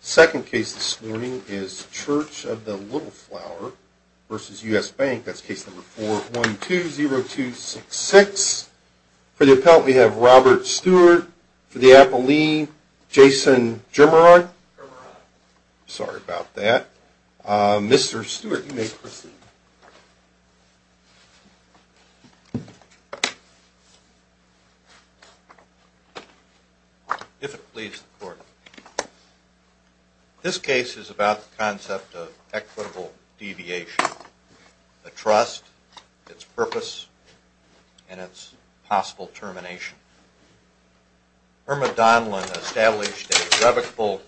Second case this morning is Church of the Little Flower v. U.S. Bank. That's case number 4120266. For the appellant, we have Robert Stewart. For the appellee, Jason Germerod. Sorry about that. Mr. Stewart, you may proceed. If it pleases the court, this case is about the concept of equitable deviation, a trust, its purpose, and its possible termination. Irma Donlan established a revocable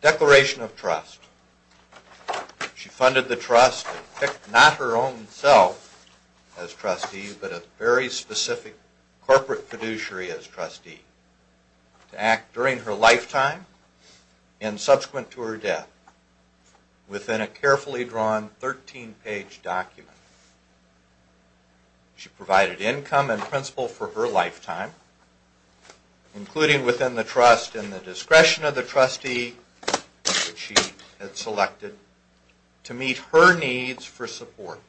declaration of trust. She funded the trust and picked not her own self as trustee, but a very specific corporate fiduciary as trustee to act during her lifetime and subsequent to her death within a carefully drawn 13-page document. She provided income and principal for her lifetime, including within the trust and the discretion of the trustee that she had selected to meet her needs for support.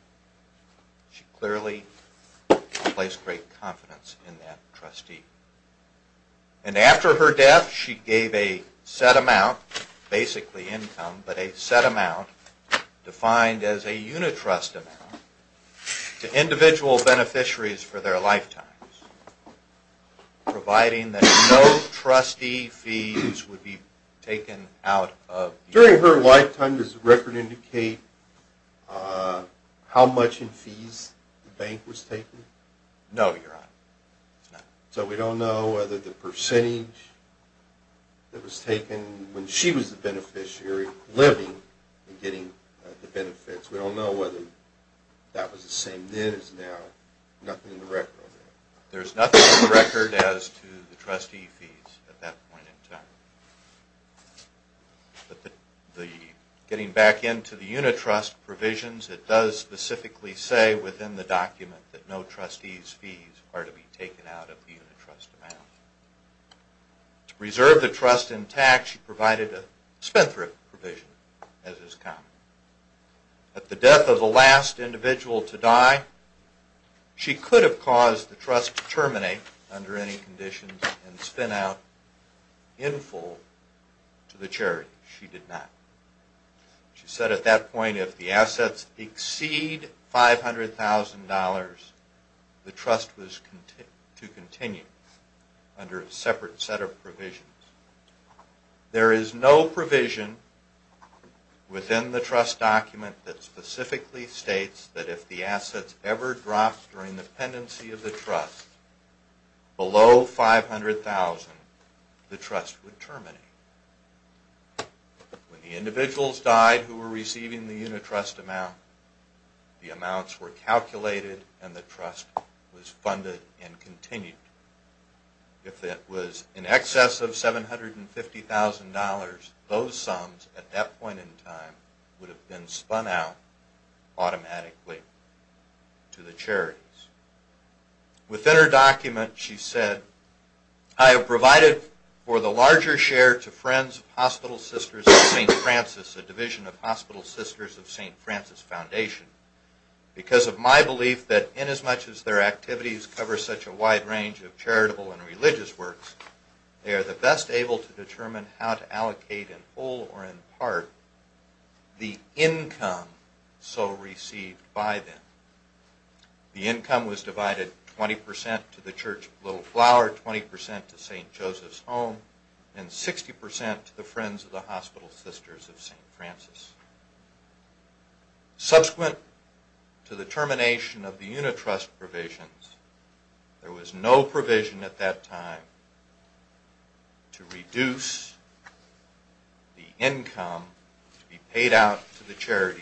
She clearly placed great confidence in that trustee. And after her death, she gave a set amount, basically income, but a set amount defined as a unit trust amount to individual beneficiaries for their lifetimes, providing that no trustee fees would be taken out of the account. During her lifetime, does the record indicate how much in fees the bank was taking? No, Your Honor. So we don't know whether the percentage that was taken when she was the beneficiary living and getting the benefits, we don't know whether that was the same then as now, nothing in the record? There's nothing in the record as to the trustee fees at that point in time. But getting back into the unit trust provisions, it does specifically say within the document that no trustee's fees are to be taken out of the unit trust amount. To reserve the trust intact, she provided a spin-thrift provision, as is common. At the death of the last individual to die, she could have caused the trust to terminate under any conditions and spin out in full to the charity. She did not. She said at that point if the assets exceed $500,000, the trust was to continue under a separate set of provisions. There is no provision within the trust document that specifically states that if the assets ever dropped during the pendency of the trust below $500,000, the trust would terminate. When the individuals died who were receiving the unit trust amount, the amounts were calculated and the trust was funded and continued. If it was in excess of $750,000, those sums at that point in time would have been spun out automatically to the charities. Within her document she said, I have provided for the larger share to Friends of Hospital Sisters of St. Francis, a division of Hospital Sisters of St. Francis Foundation, because of my belief that inasmuch as their activities cover such a wide range of charitable and religious works, they are the best able to determine how to allocate in full or in part the income so received by them. The income was divided 20% to the Church of Little Flower, 20% to St. Joseph's Home, and 60% to the Friends of the Hospital Sisters of St. Francis. Subsequent to the termination of the unit trust provisions, there was no provision at that time to reduce the income to be paid out to the charities.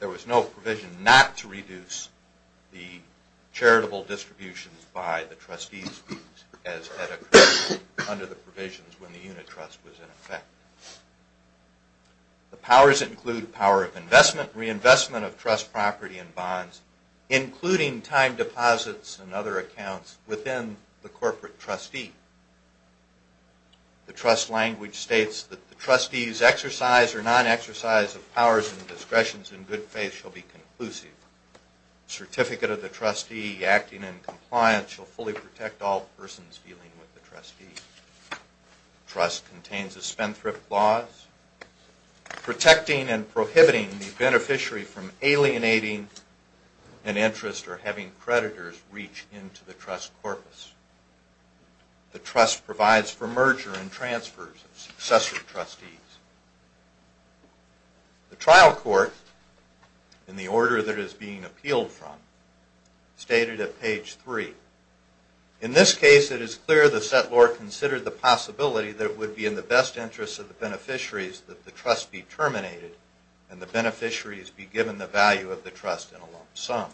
There was no provision not to reduce the charitable distributions by the trustees as had occurred under the provisions when the unit trust was in effect. The powers include power of investment, reinvestment of trust property and bonds, including time deposits and other accounts within the corporate trustee. The trust language states that the trustee's exercise or non-exercise of powers and discretions in good faith shall be conclusive. The certificate of the trustee acting in compliance shall fully protect all persons dealing with the trustee. The trust contains the Spendthrift Laws, protecting and prohibiting the beneficiary from alienating an interest or having creditors reach into the trust corpus. The trust provides for merger and transfers of successor trustees. The trial court, in the order that is being appealed from, stated at page 3, In this case it is clear the settlor considered the possibility that it would be in the best interest of the beneficiaries that the trust be terminated and the beneficiaries be given the value of the trust in a lump sum.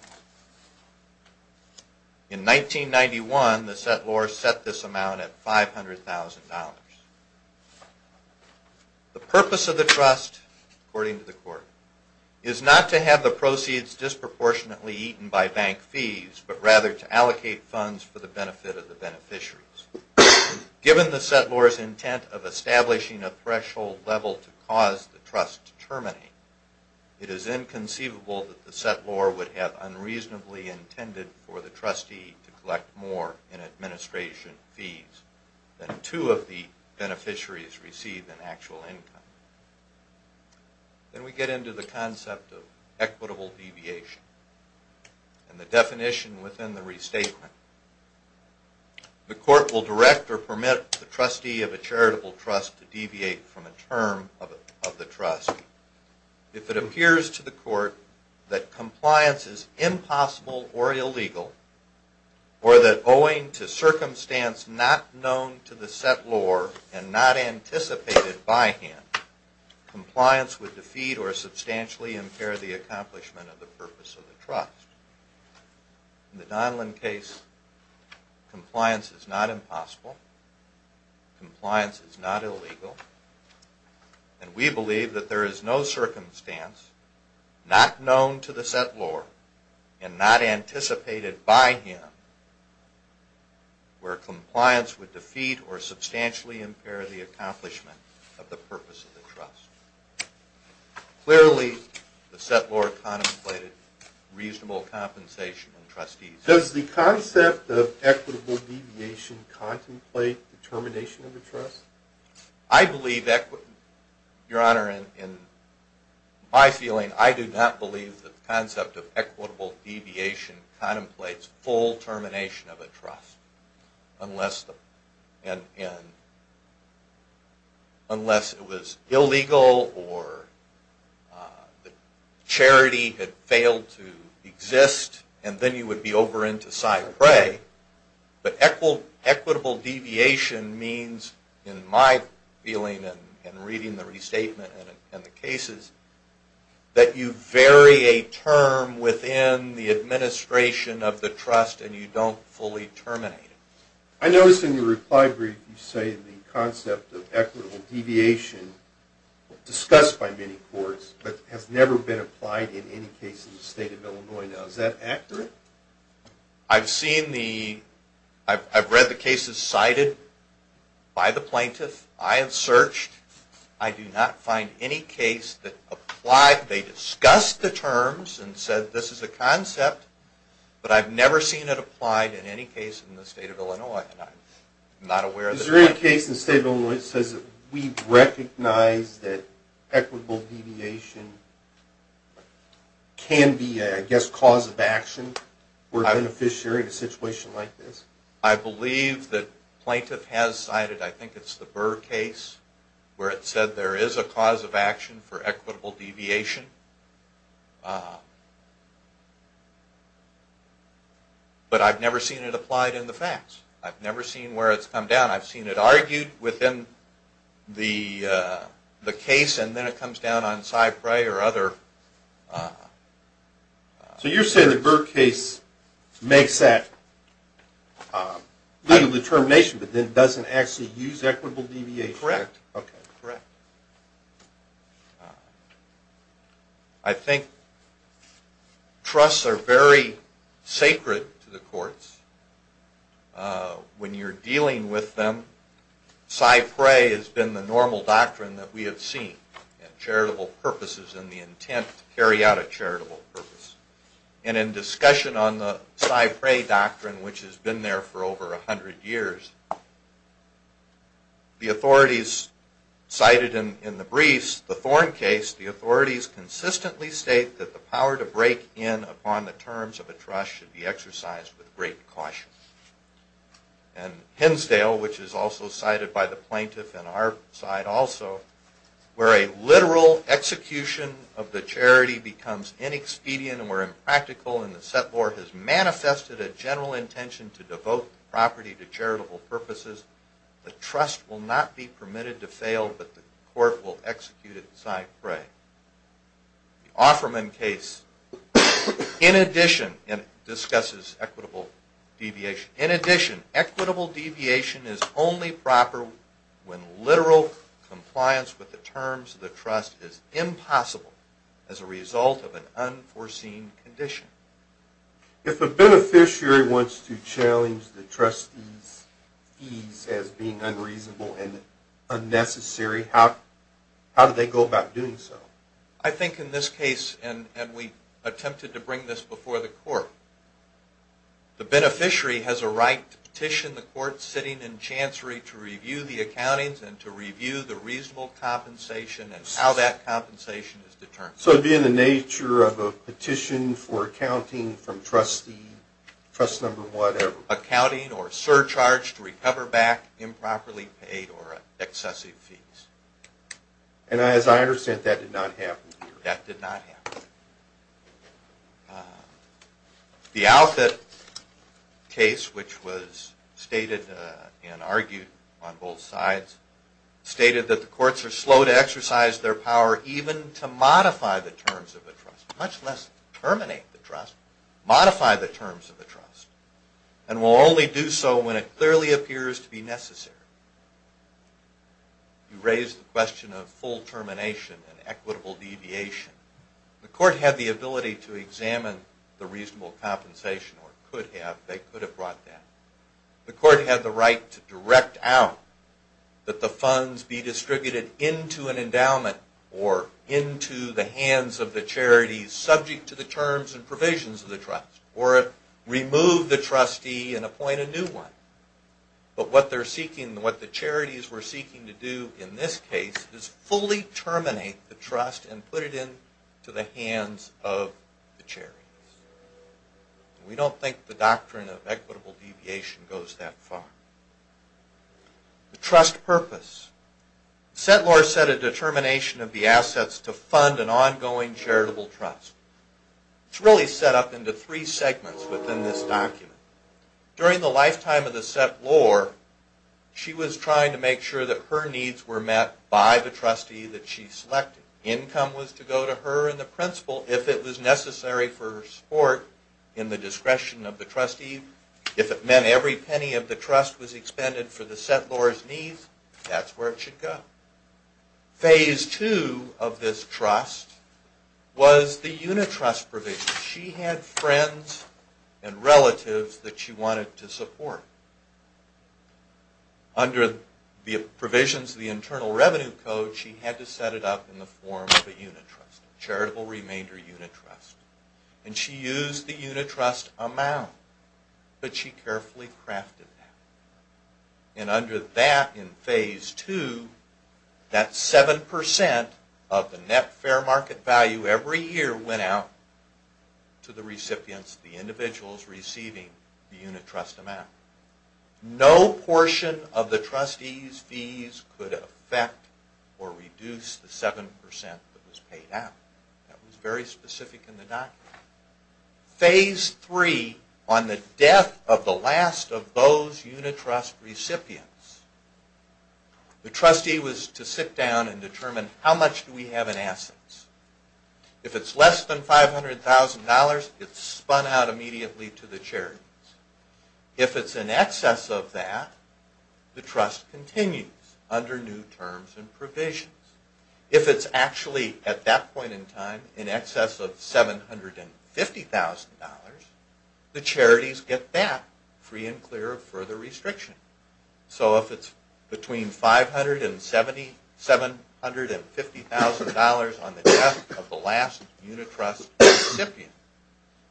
In 1991 the settlor set this amount at $500,000. The purpose of the trust, according to the court, is not to have the proceeds disproportionately eaten by bank fees, but rather to allocate funds for the benefit of the beneficiaries. Given the settlor's intent of establishing a threshold level to cause the trust to terminate, it is inconceivable that the settlor would have unreasonably intended for the trustee to collect more in administration fees than two of the beneficiaries received in actual income. Then we get into the concept of equitable deviation and the definition within the restatement. The court will direct or permit the trustee of a charitable trust to deviate from a term of the trust. If it appears to the court that compliance is impossible or illegal, or that owing to circumstance not known to the settlor and not anticipated by him, compliance would defeat or substantially impair the accomplishment of the purpose of the trust. In the Donlan case, compliance is not impossible. Compliance is not illegal. And we believe that there is no circumstance not known to the settlor and not anticipated by him where compliance would defeat or substantially impair the accomplishment of the purpose of the trust. Clearly, the settlor contemplated reasonable compensation in trusteeship. Does the concept of equitable deviation contemplate the termination of a trust? Your Honor, in my feeling, I do not believe the concept of equitable deviation contemplates full termination of a trust unless it was illegal or the charity had failed to exist, and then you would be over into side prey. But equitable deviation means, in my feeling and reading the restatement and the cases, that you vary a term within the administration of the trust and you don't fully terminate it. I noticed in your reply brief you say the concept of equitable deviation was discussed by many courts but has never been applied in any case in the state of Illinois. Is that accurate? I've read the cases cited by the plaintiff. I have searched. I do not find any case that applied. They discussed the terms and said this is a concept, but I've never seen it applied in any case in the state of Illinois. Is there any case in the state of Illinois that says we recognize that equitable deviation can be a cause of action for a beneficiary in a situation like this? I believe the plaintiff has cited, I think it's the Burr case, where it said there is a cause of action for equitable deviation, but I've never seen it applied in the facts. I've never seen where it's come down. I've seen it argued within the case and then it comes down on side prey or other... So you're saying the Burr case makes that legal determination but then doesn't actually use equitable deviation? Correct. I think trusts are very sacred to the courts. When you're dealing with them, side prey has been the normal doctrine that we have seen. Charitable purposes and the intent to carry out a charitable purpose. And in discussion on the side prey doctrine, which has been there for over a hundred years, the authorities cited in the briefs, the Thorn case, the authorities consistently state that the power to break in upon the terms of a trust should be exercised with great caution. And Hinsdale, which is also cited by the plaintiff and our side also, where a literal execution of the charity becomes inexpedient or impractical and the settlor has manifested a general intention to devote the property to charitable purposes, the trust will not be permitted to fail but the court will execute it side prey. The Offerman case, in addition, discusses equitable deviation. In addition, equitable deviation is only proper when literal compliance with the terms of the trust is impossible as a result of an unforeseen condition. If a beneficiary wants to challenge the trustee's fees as being unreasonable and unnecessary, how do they go about doing so? I think in this case, and we attempted to bring this before the court, the beneficiary has a right to petition the court sitting in chancery to review the accountings and to review the reasonable compensation and how that compensation is determined. So it would be in the nature of a petition for accounting from trustee, trust number whatever? Accounting or surcharge to recover back improperly paid or excessive fees. And as I understand, that did not happen here? That did not happen. The Outfit case, which was stated and argued on both sides, stated that the courts are slow to exercise their power even to modify the terms of the trust, much less terminate the trust, modify the terms of the trust. And will only do so when it clearly appears to be necessary. You raised the question of full termination and equitable deviation. The court had the ability to examine the reasonable compensation, or could have. They could have brought that. The court had the right to direct out that the funds be distributed into an endowment or into the hands of the charities subject to the terms and provisions of the trust. Or remove the trustee and appoint a new one. But what the charities were seeking to do in this case is fully terminate the trust and put it into the hands of the charities. We don't think the doctrine of equitable deviation goes that far. The trust purpose. Settler set a determination of the assets to fund an ongoing charitable trust. It's really set up into three segments within this document. During the lifetime of the settlor, she was trying to make sure that her needs were met by the trustee that she selected. Income was to go to her and the principal if it was necessary for support in the discretion of the trustee. If it meant every penny of the trust was expended for the settlor's needs, that's where it should go. Phase two of this trust was the unitrust provision. She had friends and relatives that she wanted to support. Under the provisions of the Internal Revenue Code, she had to set it up in the form of a unitrust. Charitable remainder unitrust. And she used the unitrust amount, but she carefully crafted that. And under that in phase two, that 7% of the net fair market value every year went out to the recipients, the individuals receiving the unitrust amount. No portion of the trustees' fees could affect or reduce the 7% that was paid out. That was very specific in the document. Phase three, on the death of the last of those unitrust recipients, the trustee was to sit down and determine how much do we have in assets. If it's less than $500,000, it's spun out immediately to the charities. If it's in excess of that, the trust continues under new terms and provisions. If it's actually at that point in time in excess of $750,000, the charities get that free and clear of further restriction. So if it's between $500,000 and $750,000 on the death of the last unitrust recipient,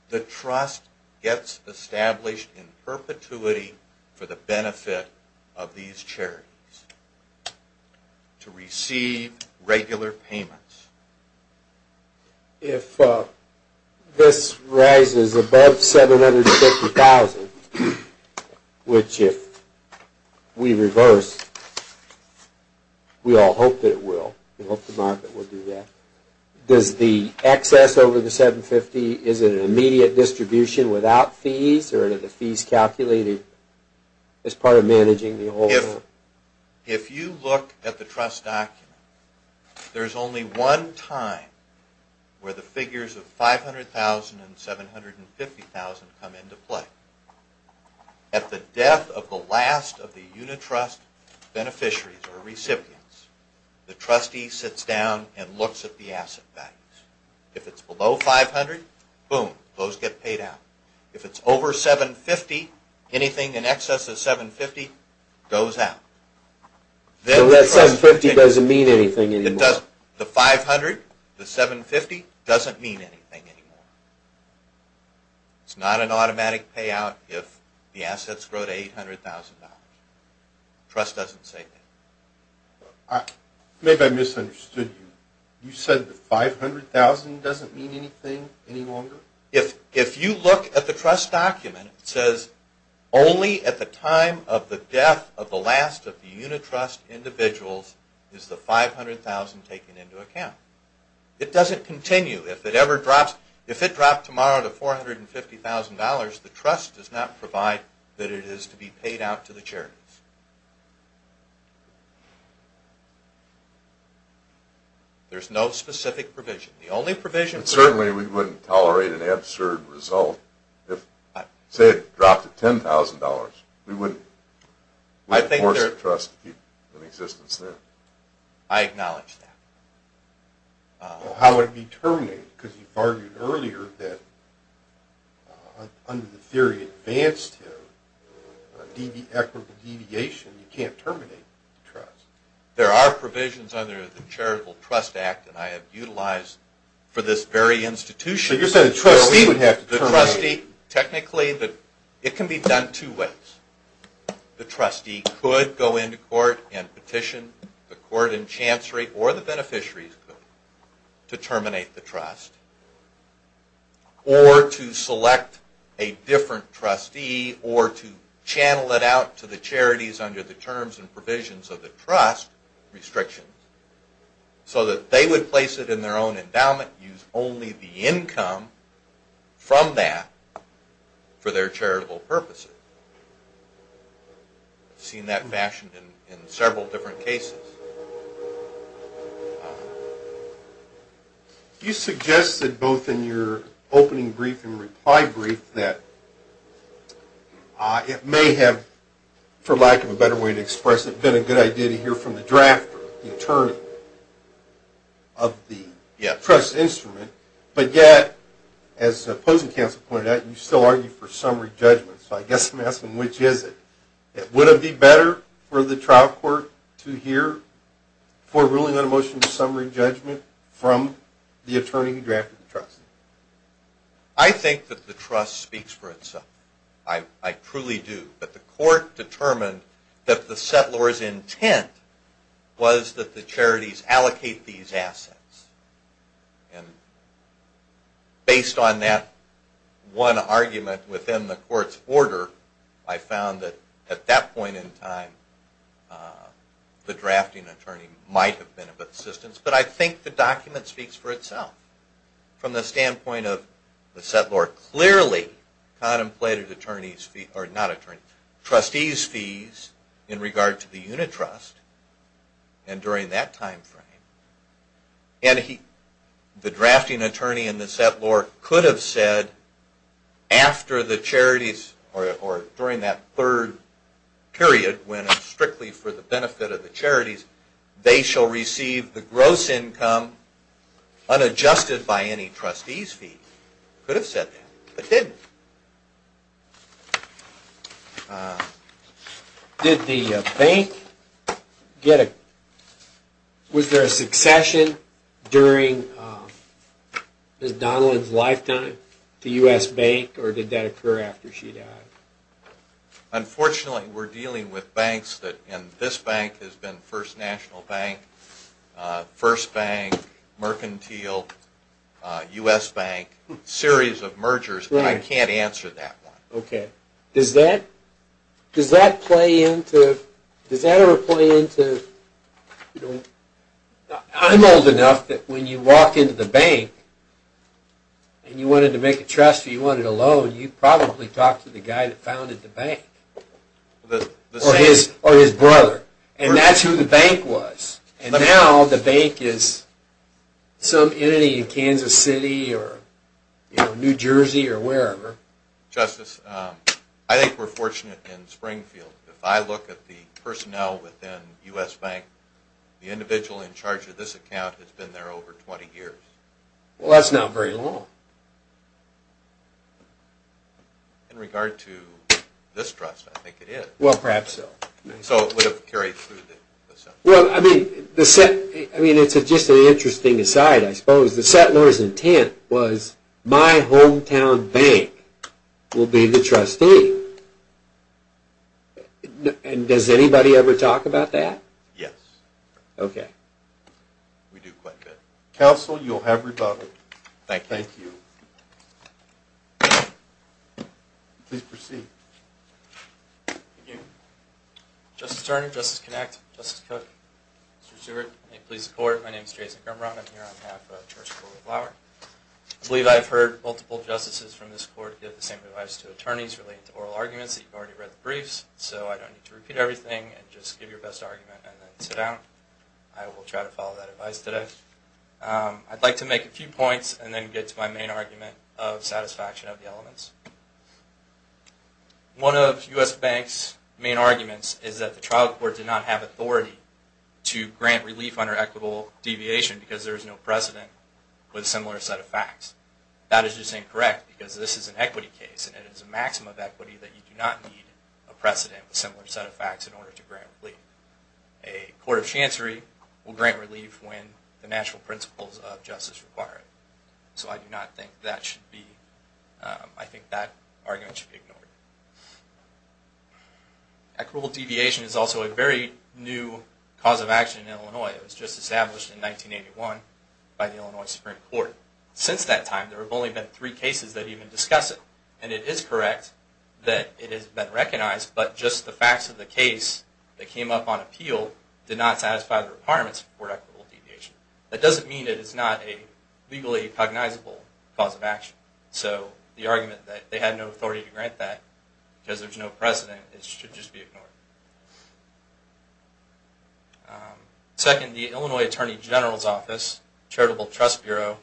the trust gets established in perpetuity for the benefit of these charities. To receive regular payments. If this rises above $750,000, which if we reverse, we all hope that it will, we hope the market will do that, does the excess over the $750,000, is it an immediate distribution without fees or are the fees calculated as part of managing the whole thing? If you look at the trust document, there's only one time where the figures of $500,000 and $750,000 come into play. At the death of the last of the unitrust beneficiaries or recipients, the trustee sits down and looks at the asset values. If it's below $500,000, boom, those get paid out. If it's over $750,000, anything in excess of $750,000 goes out. So that $750,000 doesn't mean anything anymore? The $500,000, the $750,000 doesn't mean anything anymore. It's not an automatic payout if the assets grow to $800,000. Trust doesn't say that. Maybe I misunderstood you. If you look at the trust document, it says only at the time of the death of the last of the unitrust individuals is the $500,000 taken into account. It doesn't continue. If it dropped tomorrow to $450,000, the trust does not provide that it is to be paid out to the charities. There's no specific provision. Certainly we wouldn't tolerate an absurd result. Say it dropped to $10,000, we wouldn't force the trust to keep an existence there. I acknowledge that. How would it be terminated? Because you've argued earlier that under the theory of advance tariff, equitable deviation, you can't terminate the trust. There are provisions under the Charitable Trust Act that I have utilized for this very institution. So you're saying the trustee would have to terminate it? Technically, it can be done two ways. The trustee could go into court and petition the court and chancery or the beneficiaries to terminate the trust. Or to select a different trustee or to channel it out to the charities under the terms and provisions of the trust restrictions. So that they would place it in their own endowment, use only the income from that for their charitable purposes. I've seen that fashion in several different cases. You suggested both in your opening brief and reply brief that it may have, for lack of a better way to express it, been a good idea to hear from the drafter, the attorney of the trust instrument. But yet, as opposing counsel pointed out, you still argue for summary judgment. So I guess I'm asking, which is it? Would it be better for the trial court to hear for ruling on a motion for summary judgment from the attorney who drafted the trust? I think that the trust speaks for itself. I truly do. But the court determined that the settlor's intent was that the charities allocate these assets. And based on that one argument within the court's order, I found that at that point in time, the drafting attorney might have been of assistance. But I think the document speaks for itself. From the standpoint of the settlor clearly contemplated trustees' fees in regard to the unit trust. And during that time frame, the drafting attorney and the settlor could have said after the charities, or during that third period when it's strictly for the benefit of the charities, they shall receive the gross income unadjusted by any trustees' fees. Could have said that, but didn't. Okay. Did the bank get a – was there a succession during Ms. Donald's lifetime to U.S. Bank, or did that occur after she died? Unfortunately, we're dealing with banks that – and this bank has been First National Bank, First Bank, Mercantile, U.S. Bank, series of mergers, but I can't answer that one. Okay. Does that play into – does that ever play into – I'm old enough that when you walk into the bank and you wanted to make a trust or you wanted a loan, you probably talked to the guy that founded the bank. Or his brother. And that's who the bank was. And now the bank is some entity in Kansas City or New Jersey or wherever. Justice, I think we're fortunate in Springfield. If I look at the personnel within U.S. Bank, the individual in charge of this account has been there over 20 years. Well, that's not very long. In regard to this trust, I think it is. Well, perhaps so. So it would have carried through the system. Well, I mean, the – I mean, it's just an interesting aside, I suppose. The settler's intent was, my hometown bank will be the trustee. And does anybody ever talk about that? Yes. Okay. We do quite a bit. Counsel, you'll have rebuttal. Thank you. Thank you. Please proceed. Thank you. Justice Turner, Justice Kinect, Justice Cook, Mr. Stewart, and the police court, my name is Jason Grumrun. I'm here on behalf of the Church School of Law. I believe I have heard multiple justices from this court give the same advice to attorneys relating to oral arguments that you've already read the briefs. So I don't need to repeat everything. Just give your best argument and then sit down. I will try to follow that advice today. I'd like to make a few points and then get to my main argument of satisfaction of the elements. One of U.S. banks' main arguments is that the trial court did not have authority to grant relief under equitable deviation because there is no precedent with a similar set of facts. That is just incorrect because this is an equity case and it is a maximum of equity that you do not need a precedent with a similar set of facts in order to grant relief. A court of chancery will grant relief when the natural principles of justice require it. So I do not think that should be, I think that argument should be ignored. Equitable deviation is also a very new cause of action in Illinois. It was just established in 1981 by the Illinois Supreme Court. Since that time, there have only been three cases that even discuss it. And it is correct that it has been recognized, but just the facts of the case that came up on appeal did not satisfy the requirements for equitable deviation. That doesn't mean it is not a legally cognizable cause of action. So the argument that they had no authority to grant that because there is no precedent, it should just be ignored. Second, the Illinois Attorney General's Office, Charitable Trust Bureau,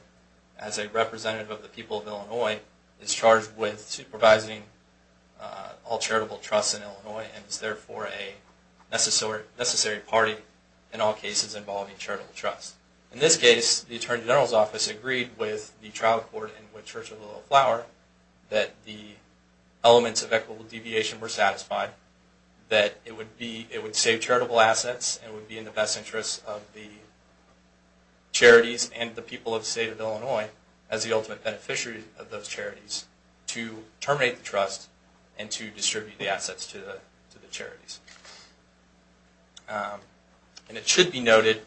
as a representative of the people of Illinois, is charged with supervising all charitable trusts in Illinois and is therefore a necessary party in all cases involving charitable trusts. In this case, the Attorney General's Office agreed with the trial court and with Churchill Little Flower that the elements of equitable deviation were satisfied, that it would save charitable assets and would be in the best interest of the charities and the people of the state of Illinois as the ultimate beneficiary of those charities to terminate the trust and to distribute the assets to the charities. And it should be noted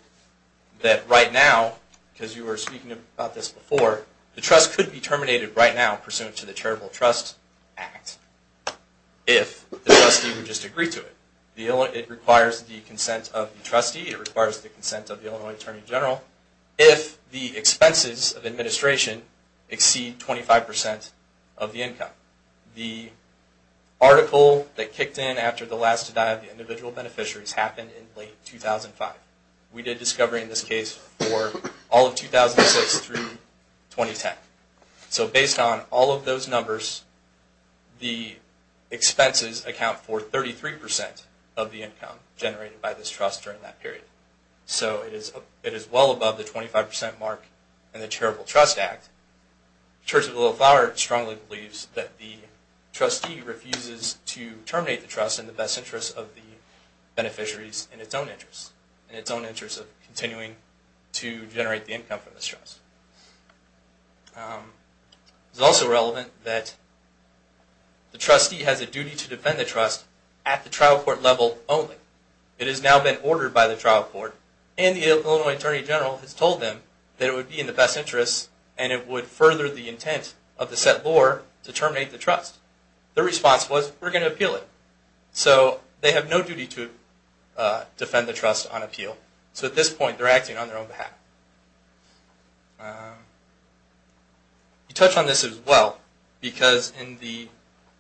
that right now, because you were speaking about this before, the trust could be terminated right now pursuant to the Charitable Trust Act if the trustee would just agree to it. It requires the consent of the trustee, it requires the consent of the Illinois Attorney General, if the expenses of administration exceed 25% of the income. The article that kicked in after the last to die of the individual beneficiaries happened in late 2005. We did discovery in this case for all of 2006 through 2010. So based on all of those numbers, the expenses account for 33% of the income generated by this trust during that period. So it is well above the 25% mark in the Charitable Trust Act. Churchill Little Flower strongly believes that the trustee refuses to terminate the trust in the best interest of the beneficiaries in its own interest, in its own interest of continuing to generate the income from this trust. It is also relevant that the trustee has a duty to defend the trust at the trial court level only. It has now been ordered by the trial court, and the Illinois Attorney General has told them that it would be in the best interest and it would further the intent of the set law to terminate the trust. Their response was, we're going to appeal it. So they have no duty to defend the trust on appeal. So at this point they're acting on their own behalf. We touch on this as well because in the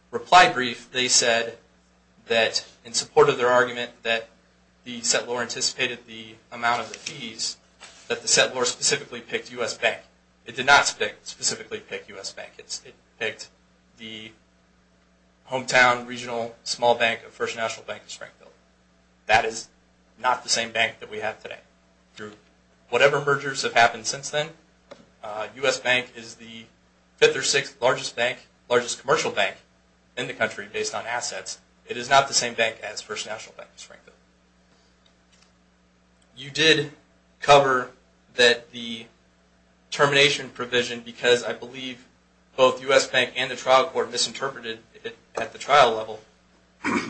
reply brief they said that in support of their argument that the set law anticipated the amount of the fees, that the set law specifically picked U.S. Bank. It did not specifically pick U.S. Bank. It picked the hometown, regional, small bank of First National Bank of Springfield. That is not the same bank that we have today. Whatever mergers have happened since then, U.S. Bank is the fifth or sixth largest commercial bank in the country based on assets. It is not the same bank as First National Bank of Springfield. You did cover that the termination provision, because I believe both U.S. Bank and the trial court misinterpreted it at the trial level.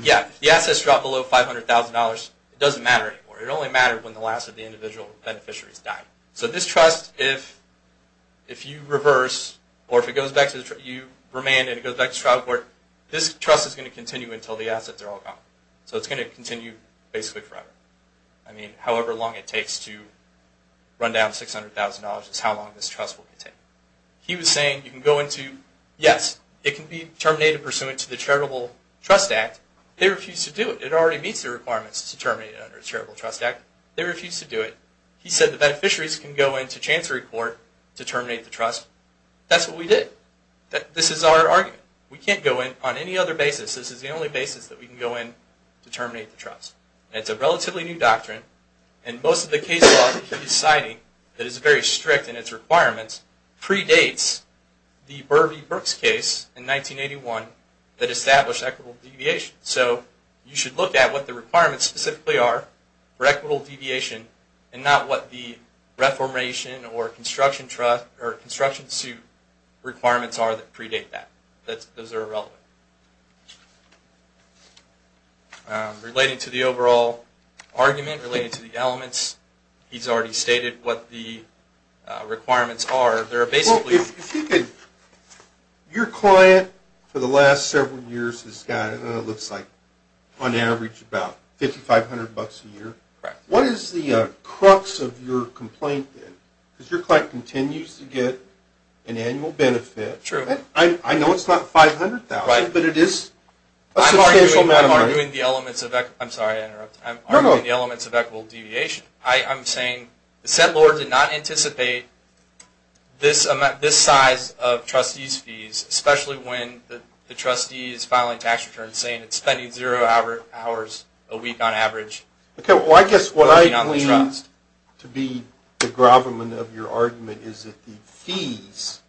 Yeah, if the assets drop below $500,000, it doesn't matter anymore. It only mattered when the last of the individual beneficiaries died. So this trust, if you reverse, or if you remand and it goes back to the trial court, this trust is going to continue until the assets are all gone. So it's going to continue basically forever. I mean, however long it takes to run down $600,000 is how long this trust will continue. He was saying, yes, it can be terminated pursuant to the Charitable Trust Act. They refused to do it. It already meets the requirements to terminate it under the Charitable Trust Act. They refused to do it. He said the beneficiaries can go into Chancery Court to terminate the trust. That's what we did. This is our argument. We can't go in on any other basis. This is the only basis that we can go in to terminate the trust. It's a relatively new doctrine, and most of the case law that he's citing that is very strict in its requirements predates the Burvey-Brooks case in 1981 that established equitable deviation. So you should look at what the requirements specifically are for equitable deviation and not what the reformation or construction suit requirements are that predate that. Those are irrelevant. Related to the overall argument, related to the elements, he's already stated what the requirements are. Well, if you could, your client for the last several years has got, it looks like on average about $5,500 a year. Correct. What is the crux of your complaint then? Because your client continues to get an annual benefit. True. I know it's not $500,000, but it is a substantial amount of money. I'm arguing the elements of equitable deviation. I'm saying the said lawyer did not anticipate this size of trustees' fees, especially when the trustee is filing tax returns saying it's spending zero hours a week on average. Okay. Well, I guess what I believe to be the gravamen of your argument is that the fees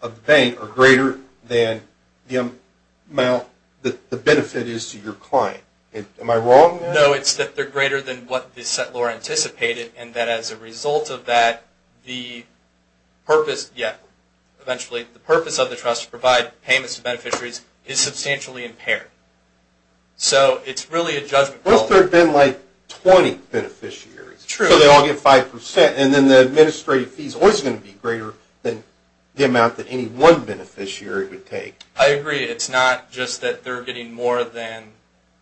of the bank are greater than the amount, the benefit is to your client. Am I wrong? No, it's that they're greater than what the said lawyer anticipated and that as a result of that, the purpose, yeah, eventually, the purpose of the trust to provide payments to beneficiaries is substantially impaired. So it's really a judgment call. Well, if there had been like 20 beneficiaries. True. So they all get 5%. And then the administrative fee is always going to be greater than the amount that any one beneficiary would take. I agree. It's not just that they're getting more than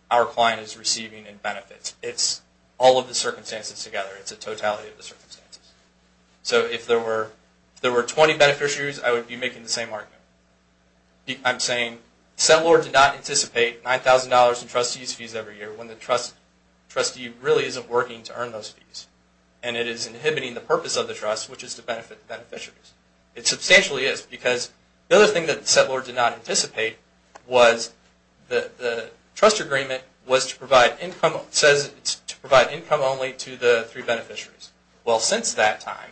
our client is receiving in benefits. It's all of the circumstances together. It's a totality of the circumstances. So if there were 20 beneficiaries, I would be making the same argument. I'm saying said lawyer did not anticipate $9,000 in trustees' fees every year when the trustee really isn't working to earn those fees. And it is inhibiting the purpose of the trust, which is to benefit beneficiaries. It substantially is because the other thing that said lawyer did not anticipate was the trust agreement was to provide income, says it's to provide income only to the three beneficiaries. Well, since that time,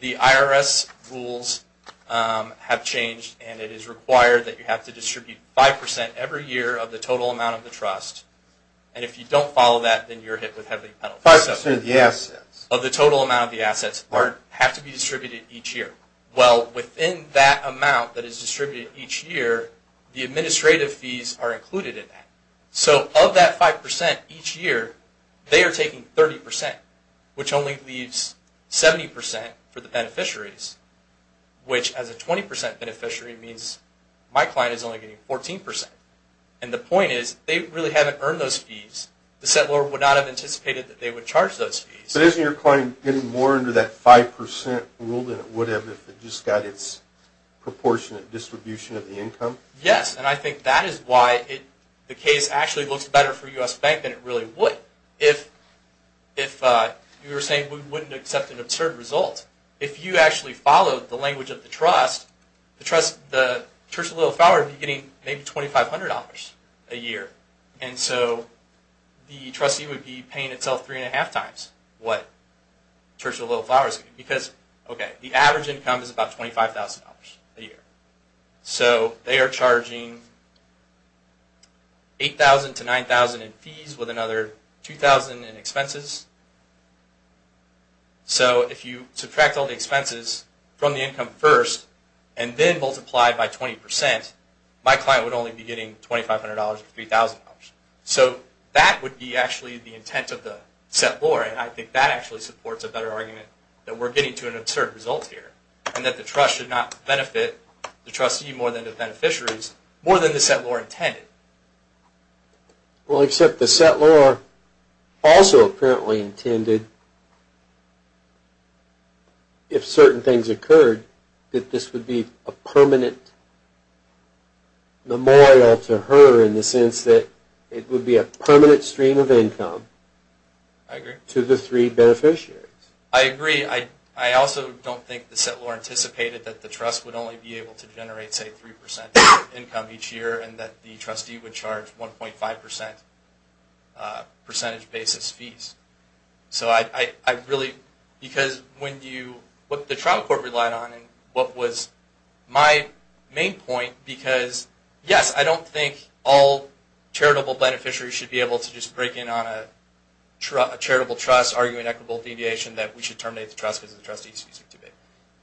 the IRS rules have changed and it is required that you have to distribute 5% every year of the total amount of the trust. And if you don't follow that, then you're hit with heavy penalties. 5% of the assets. Of the total amount of the assets have to be distributed each year. Well, within that amount that is distributed each year, the administrative fees are included in that. So of that 5% each year, they are taking 30%, which only leaves 70% for the beneficiaries, which as a 20% beneficiary means my client is only getting 14%. And the point is, they really haven't earned those fees. The settlor would not have anticipated that they would charge those fees. But isn't your client getting more under that 5% rule than it would have if it just got its proportionate distribution of the income? Yes, and I think that is why the case actually looks better for U.S. Bank than it really would. If you were saying we wouldn't accept an absurd result, if you actually followed the language of the trust, the Church of Little Flowers would be getting maybe $2,500 a year. And so the trustee would be paying itself three and a half times what the Church of Little Flowers is getting. Because the average income is about $25,000 a year. So they are charging $8,000 to $9,000 in fees with another $2,000 in expenses. So if you subtract all the expenses from the income first and then multiply by 20%, my client would only be getting $2,500 or $3,000. So that would be actually the intent of the settlor. And I think that actually supports a better argument that we are getting to an absurd result here. And that the trust should not benefit the trustee more than the beneficiaries, more than the settlor intended. Well, except the settlor also apparently intended, if certain things occurred, that this would be a permanent memorial to her in the sense that it would be a permanent stream of income to the three beneficiaries. I agree. I also don't think the settlor anticipated that the trust would only be able to generate, say, 3% income each year and that the trustee would charge 1.5% percentage basis fees. What the trial court relied on and what was my main point, because yes, I don't think all charitable beneficiaries should be able to just break in on a charitable trust arguing equitable deviation that we should terminate the trust because the trustee's fees are too big.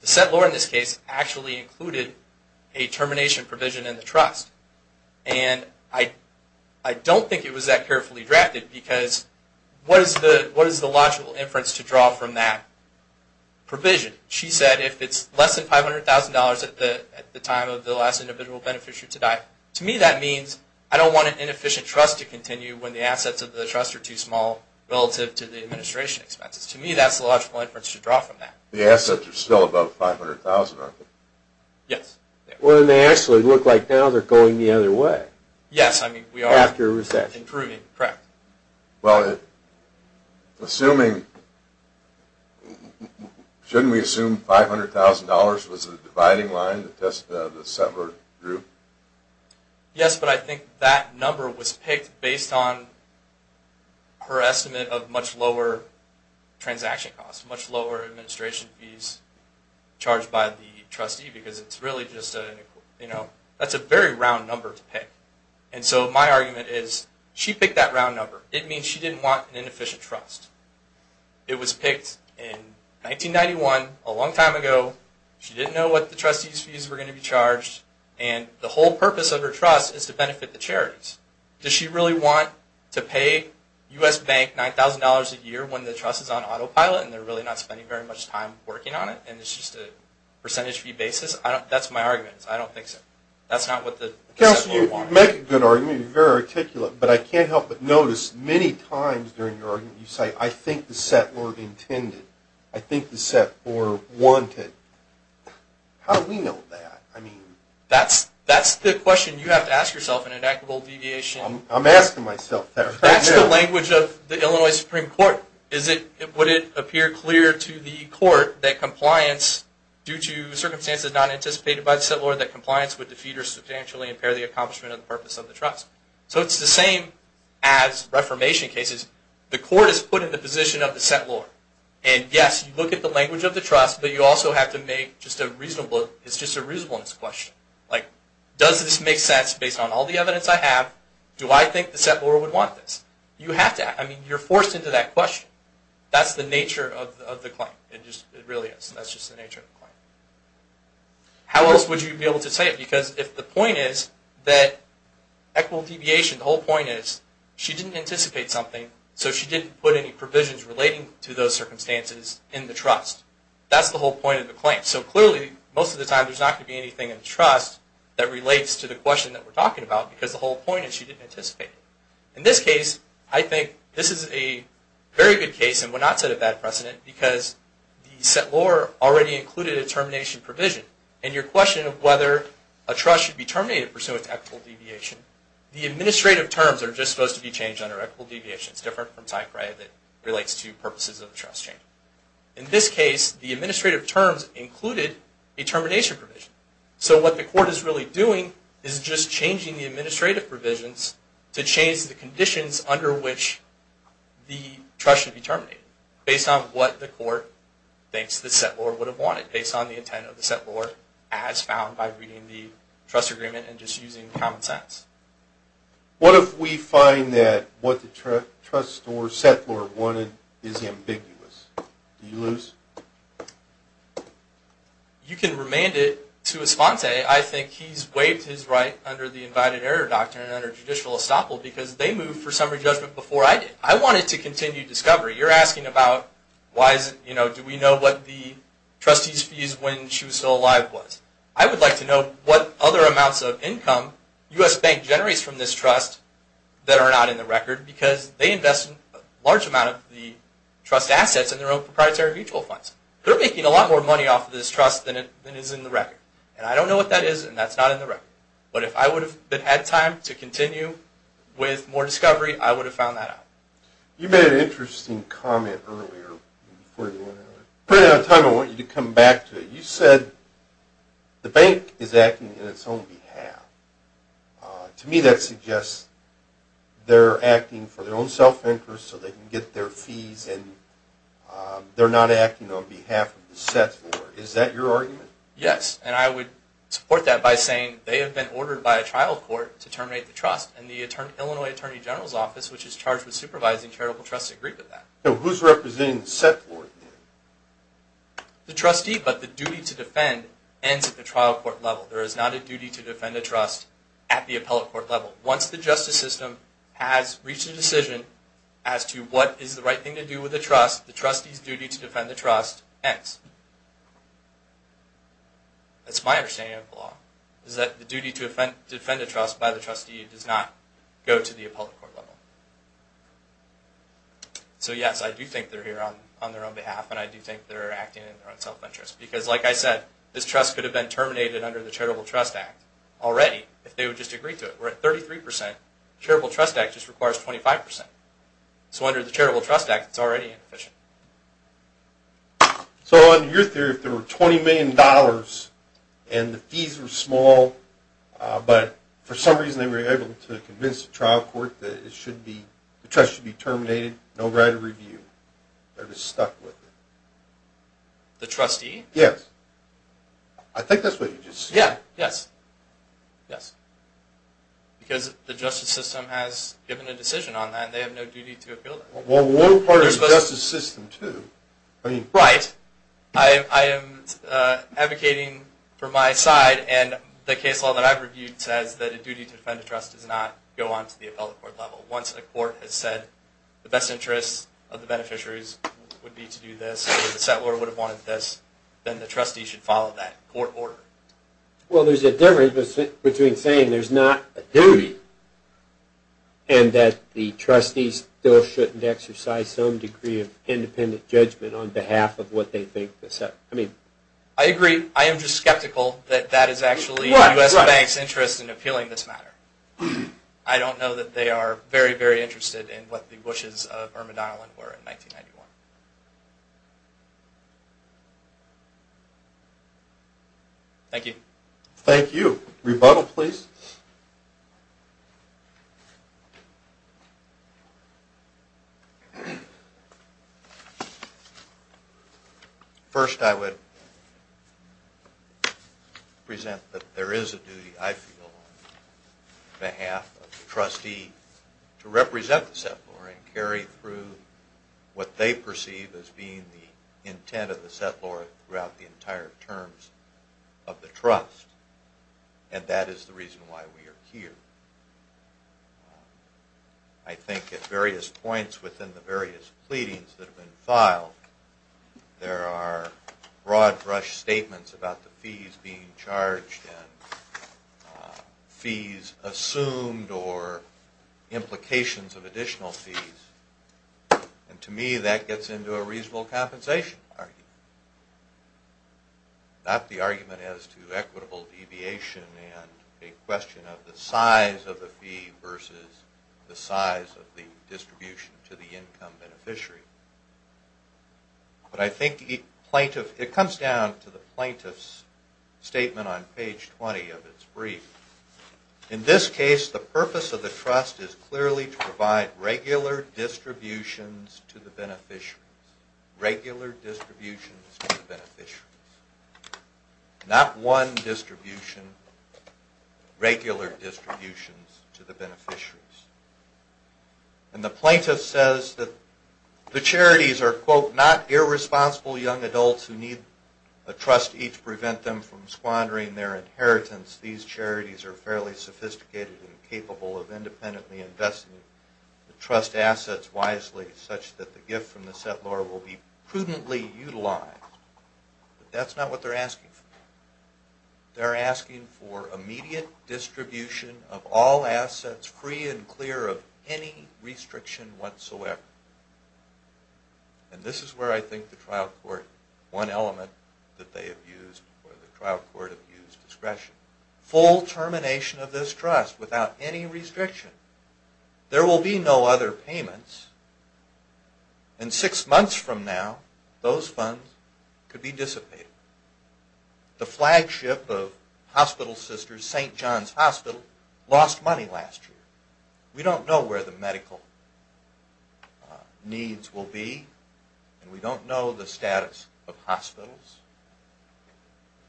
The settlor in this case actually included a termination provision in the trust. And I don't think it was that carefully drafted because what is the logical inference to draw from that provision? She said if it's less than $500,000 at the time of the last individual beneficiary to die, to me that means I don't want an inefficient trust to continue when the assets of the trust are too small relative to the administration expenses. To me that's the logical inference to draw from that. The assets are still above $500,000, aren't they? Yes. Well then they actually look like now they're going the other way. Yes, I mean we are. After a recession. Improving, correct. Well, assuming, shouldn't we assume $500,000 was the dividing line to test the settlor group? Yes, but I think that number was picked based on her estimate of much lower transaction costs, much lower administration fees charged by the trustee because that's a very round number to pick. And so my argument is she picked that round number. It means she didn't want an inefficient trust. It was picked in 1991, a long time ago. She didn't know what the trustee's fees were going to be charged. And the whole purpose of her trust is to benefit the charities. Does she really want to pay U.S. Bank $9,000 a year when the trust is on autopilot and they're really not spending very much time working on it and it's just a percentage fee basis? That's my argument. I don't think so. That's not what the settlor wanted. You make a good argument. You're very articulate. But I can't help but notice many times during your argument you say, I think the settlor intended. I think the settlor wanted. How do we know that? That's the question you have to ask yourself in an equitable deviation. I'm asking myself that right now. That's the language of the Illinois Supreme Court. Would it appear clear to the court that compliance due to circumstances not anticipated by the settlor, that compliance would defeat or substantially impair the accomplishment of the purpose of the trust? So it's the same as reformation cases. The court is put in the position of the settlor. And yes, you look at the language of the trust, but you also have to make just a reasonableness question. Does this make sense based on all the evidence I have? Do I think the settlor would want this? You have to ask. You're forced into that question. That's the nature of the claim. It really is. That's just the nature of the claim. How else would you be able to say it? Because if the point is that equitable deviation, the whole point is she didn't anticipate something, so she didn't put any provisions relating to those circumstances in the trust. That's the whole point of the claim. So clearly most of the time there's not going to be anything in the trust that relates to the question that we're talking about because the whole point is she didn't anticipate it. In this case, I think this is a very good case and would not set a bad precedent because the settlor already included a termination provision. And your question of whether a trust should be terminated pursuant to equitable deviation, the administrative terms are just supposed to be changed under equitable deviation. It's different from type, right, that relates to purposes of the trust change. In this case, the administrative terms included a termination provision. So what the court is really doing is just changing the administrative provisions to change the conditions under which the trust should be terminated based on what the court thinks the settlor would have wanted, based on the intent of the settlor, as found by reading the trust agreement and just using common sense. What if we find that what the trust or settlor wanted is ambiguous? Do you lose? You can remand it to Esponte. I think he's waived his right under the Invited Error Doctrine and under judicial estoppel because they moved for summary judgment before I did. I want it to continue discovery. You're asking about do we know what the trustee's fees when she was still alive was. I would like to know what other amounts of income U.S. Bank generates from this trust that are not in the record because they invest a large amount of the trust assets in their own proprietary mutual funds. They're making a lot more money off of this trust than is in the record. I don't know what that is and that's not in the record. But if I would have had time to continue with more discovery, I would have found that out. You made an interesting comment earlier. I want you to come back to it. You said the bank is acting on its own behalf. To me that suggests they're acting for their own self-interest so they can get their fees and they're not acting on behalf of the set floor. Is that your argument? Yes, and I would support that by saying they have been ordered by a trial court to terminate the trust. And the Illinois Attorney General's Office, which is charged with supervising charitable trusts, agrees with that. Who's representing the set floor? The trustee, but the duty to defend ends at the trial court level. There is not a duty to defend a trust at the appellate court level. Once the justice system has reached a decision as to what is the right thing to do with the trust, the trustee's duty to defend the trust ends. That's my understanding of the law, is that the duty to defend a trust by the trustee does not go to the appellate court level. So yes, I do think they're here on their own behalf and I do think they're acting in their own self-interest because, like I said, this trust could have been terminated under the Charitable Trust Act already if they would just agree to it. We're at 33%. The Charitable Trust Act just requires 25%. So under the Charitable Trust Act, it's already inefficient. So under your theory, if there were $20 million and the fees were small, but for some reason they were able to convince the trial court that the trust should be terminated, no right of review, they're just stuck with it? The trustee? Yes. I think that's what you just said. Yes. Because the justice system has given a decision on that and they have no duty to appeal that. Well, we're part of the justice system, too. Right. I am advocating for my side and the case law that I've reviewed says that a duty to defend a trust does not go on to the appellate court level. Once a court has said the best interests of the beneficiaries would be to do this, or the settler would have wanted this, then the trustee should follow that court order. Well, there's a difference between saying there's not a duty and that the trustees still shouldn't exercise some degree of independent judgment on behalf of what they think. I agree. I am just skeptical that that is actually the U.S. Bank's interest in appealing this matter. I don't know that they are very, very interested in what the wishes of Irma Donnellan were in 1991. Thank you. Rebuttal, please. First, I would present that there is a duty, I feel, on behalf of the trustee to represent the settler and carry through what they perceive as being the intent of the settler throughout the entire terms of the trust, and that is the reason why we are here. I think at various points within the various pleadings that have been filed, there are broad-brush statements about the fees being charged and fees assumed or implications of additional fees, and to me that gets into a reasonable compensation argument, not the argument as to equitable deviation and a question of the size of the fee versus the size of the distribution to the income beneficiary. But I think it comes down to the plaintiff's statement on page 20 of its brief. In this case, the purpose of the trust is clearly to provide regular distributions to the beneficiaries, regular distributions to the beneficiaries, not one distribution, regular distributions to the beneficiaries. And the plaintiff says that the charities are, quote, not irresponsible young adults who need the trust to prevent them from squandering their inheritance. These charities are fairly sophisticated and capable of independently investing the trust assets wisely such that the gift from the settler will be prudently utilized. But that's not what they're asking for. They're asking for immediate distribution of all assets free and clear of any restriction whatsoever. And this is where I think the trial court, one element that they have used or the trial court have used discretion. Full termination of this trust without any restriction. There will be no other payments, and six months from now, those funds could be dissipated. The flagship of Hospital Sisters, St. John's Hospital, lost money last year. We don't know where the medical needs will be, and we don't know the status of hospitals.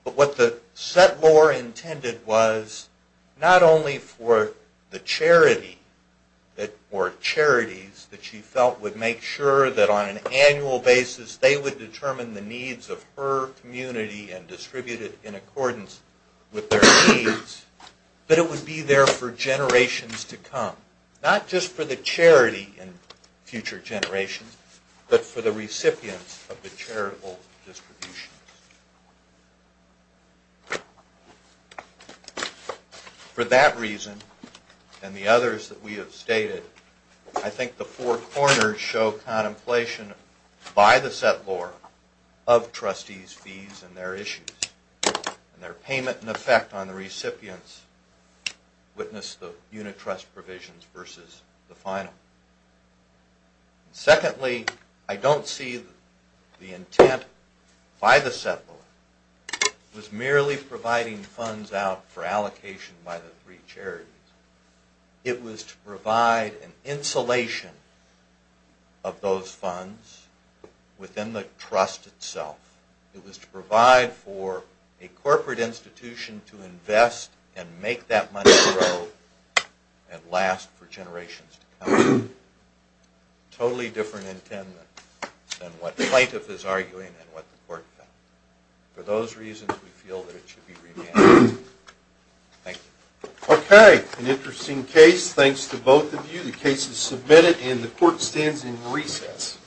But what the settlor intended was not only for the charity, or charities that she felt would make sure that on an annual basis they would determine the needs of her community and distribute it in accordance with their needs, but it would be there for generations to come. Not just for the charity in future generations, but for the recipients of the charitable distributions. For that reason, and the others that we have stated, I think the four corners show contemplation by the settlor of trustees' fees and their issues, and their payment in effect on the recipients witness the unit trust provisions versus the final. This settlor was merely providing funds out for allocation by the three charities. It was to provide an insulation of those funds within the trust itself. It was to provide for a corporate institution to invest and make that money grow and last for generations to come. Totally different intent than what the plaintiff is arguing and what the court found. For those reasons, we feel that it should be revamped. Thank you. Okay. An interesting case. Thanks to both of you. The case is submitted, and the court stands in recess.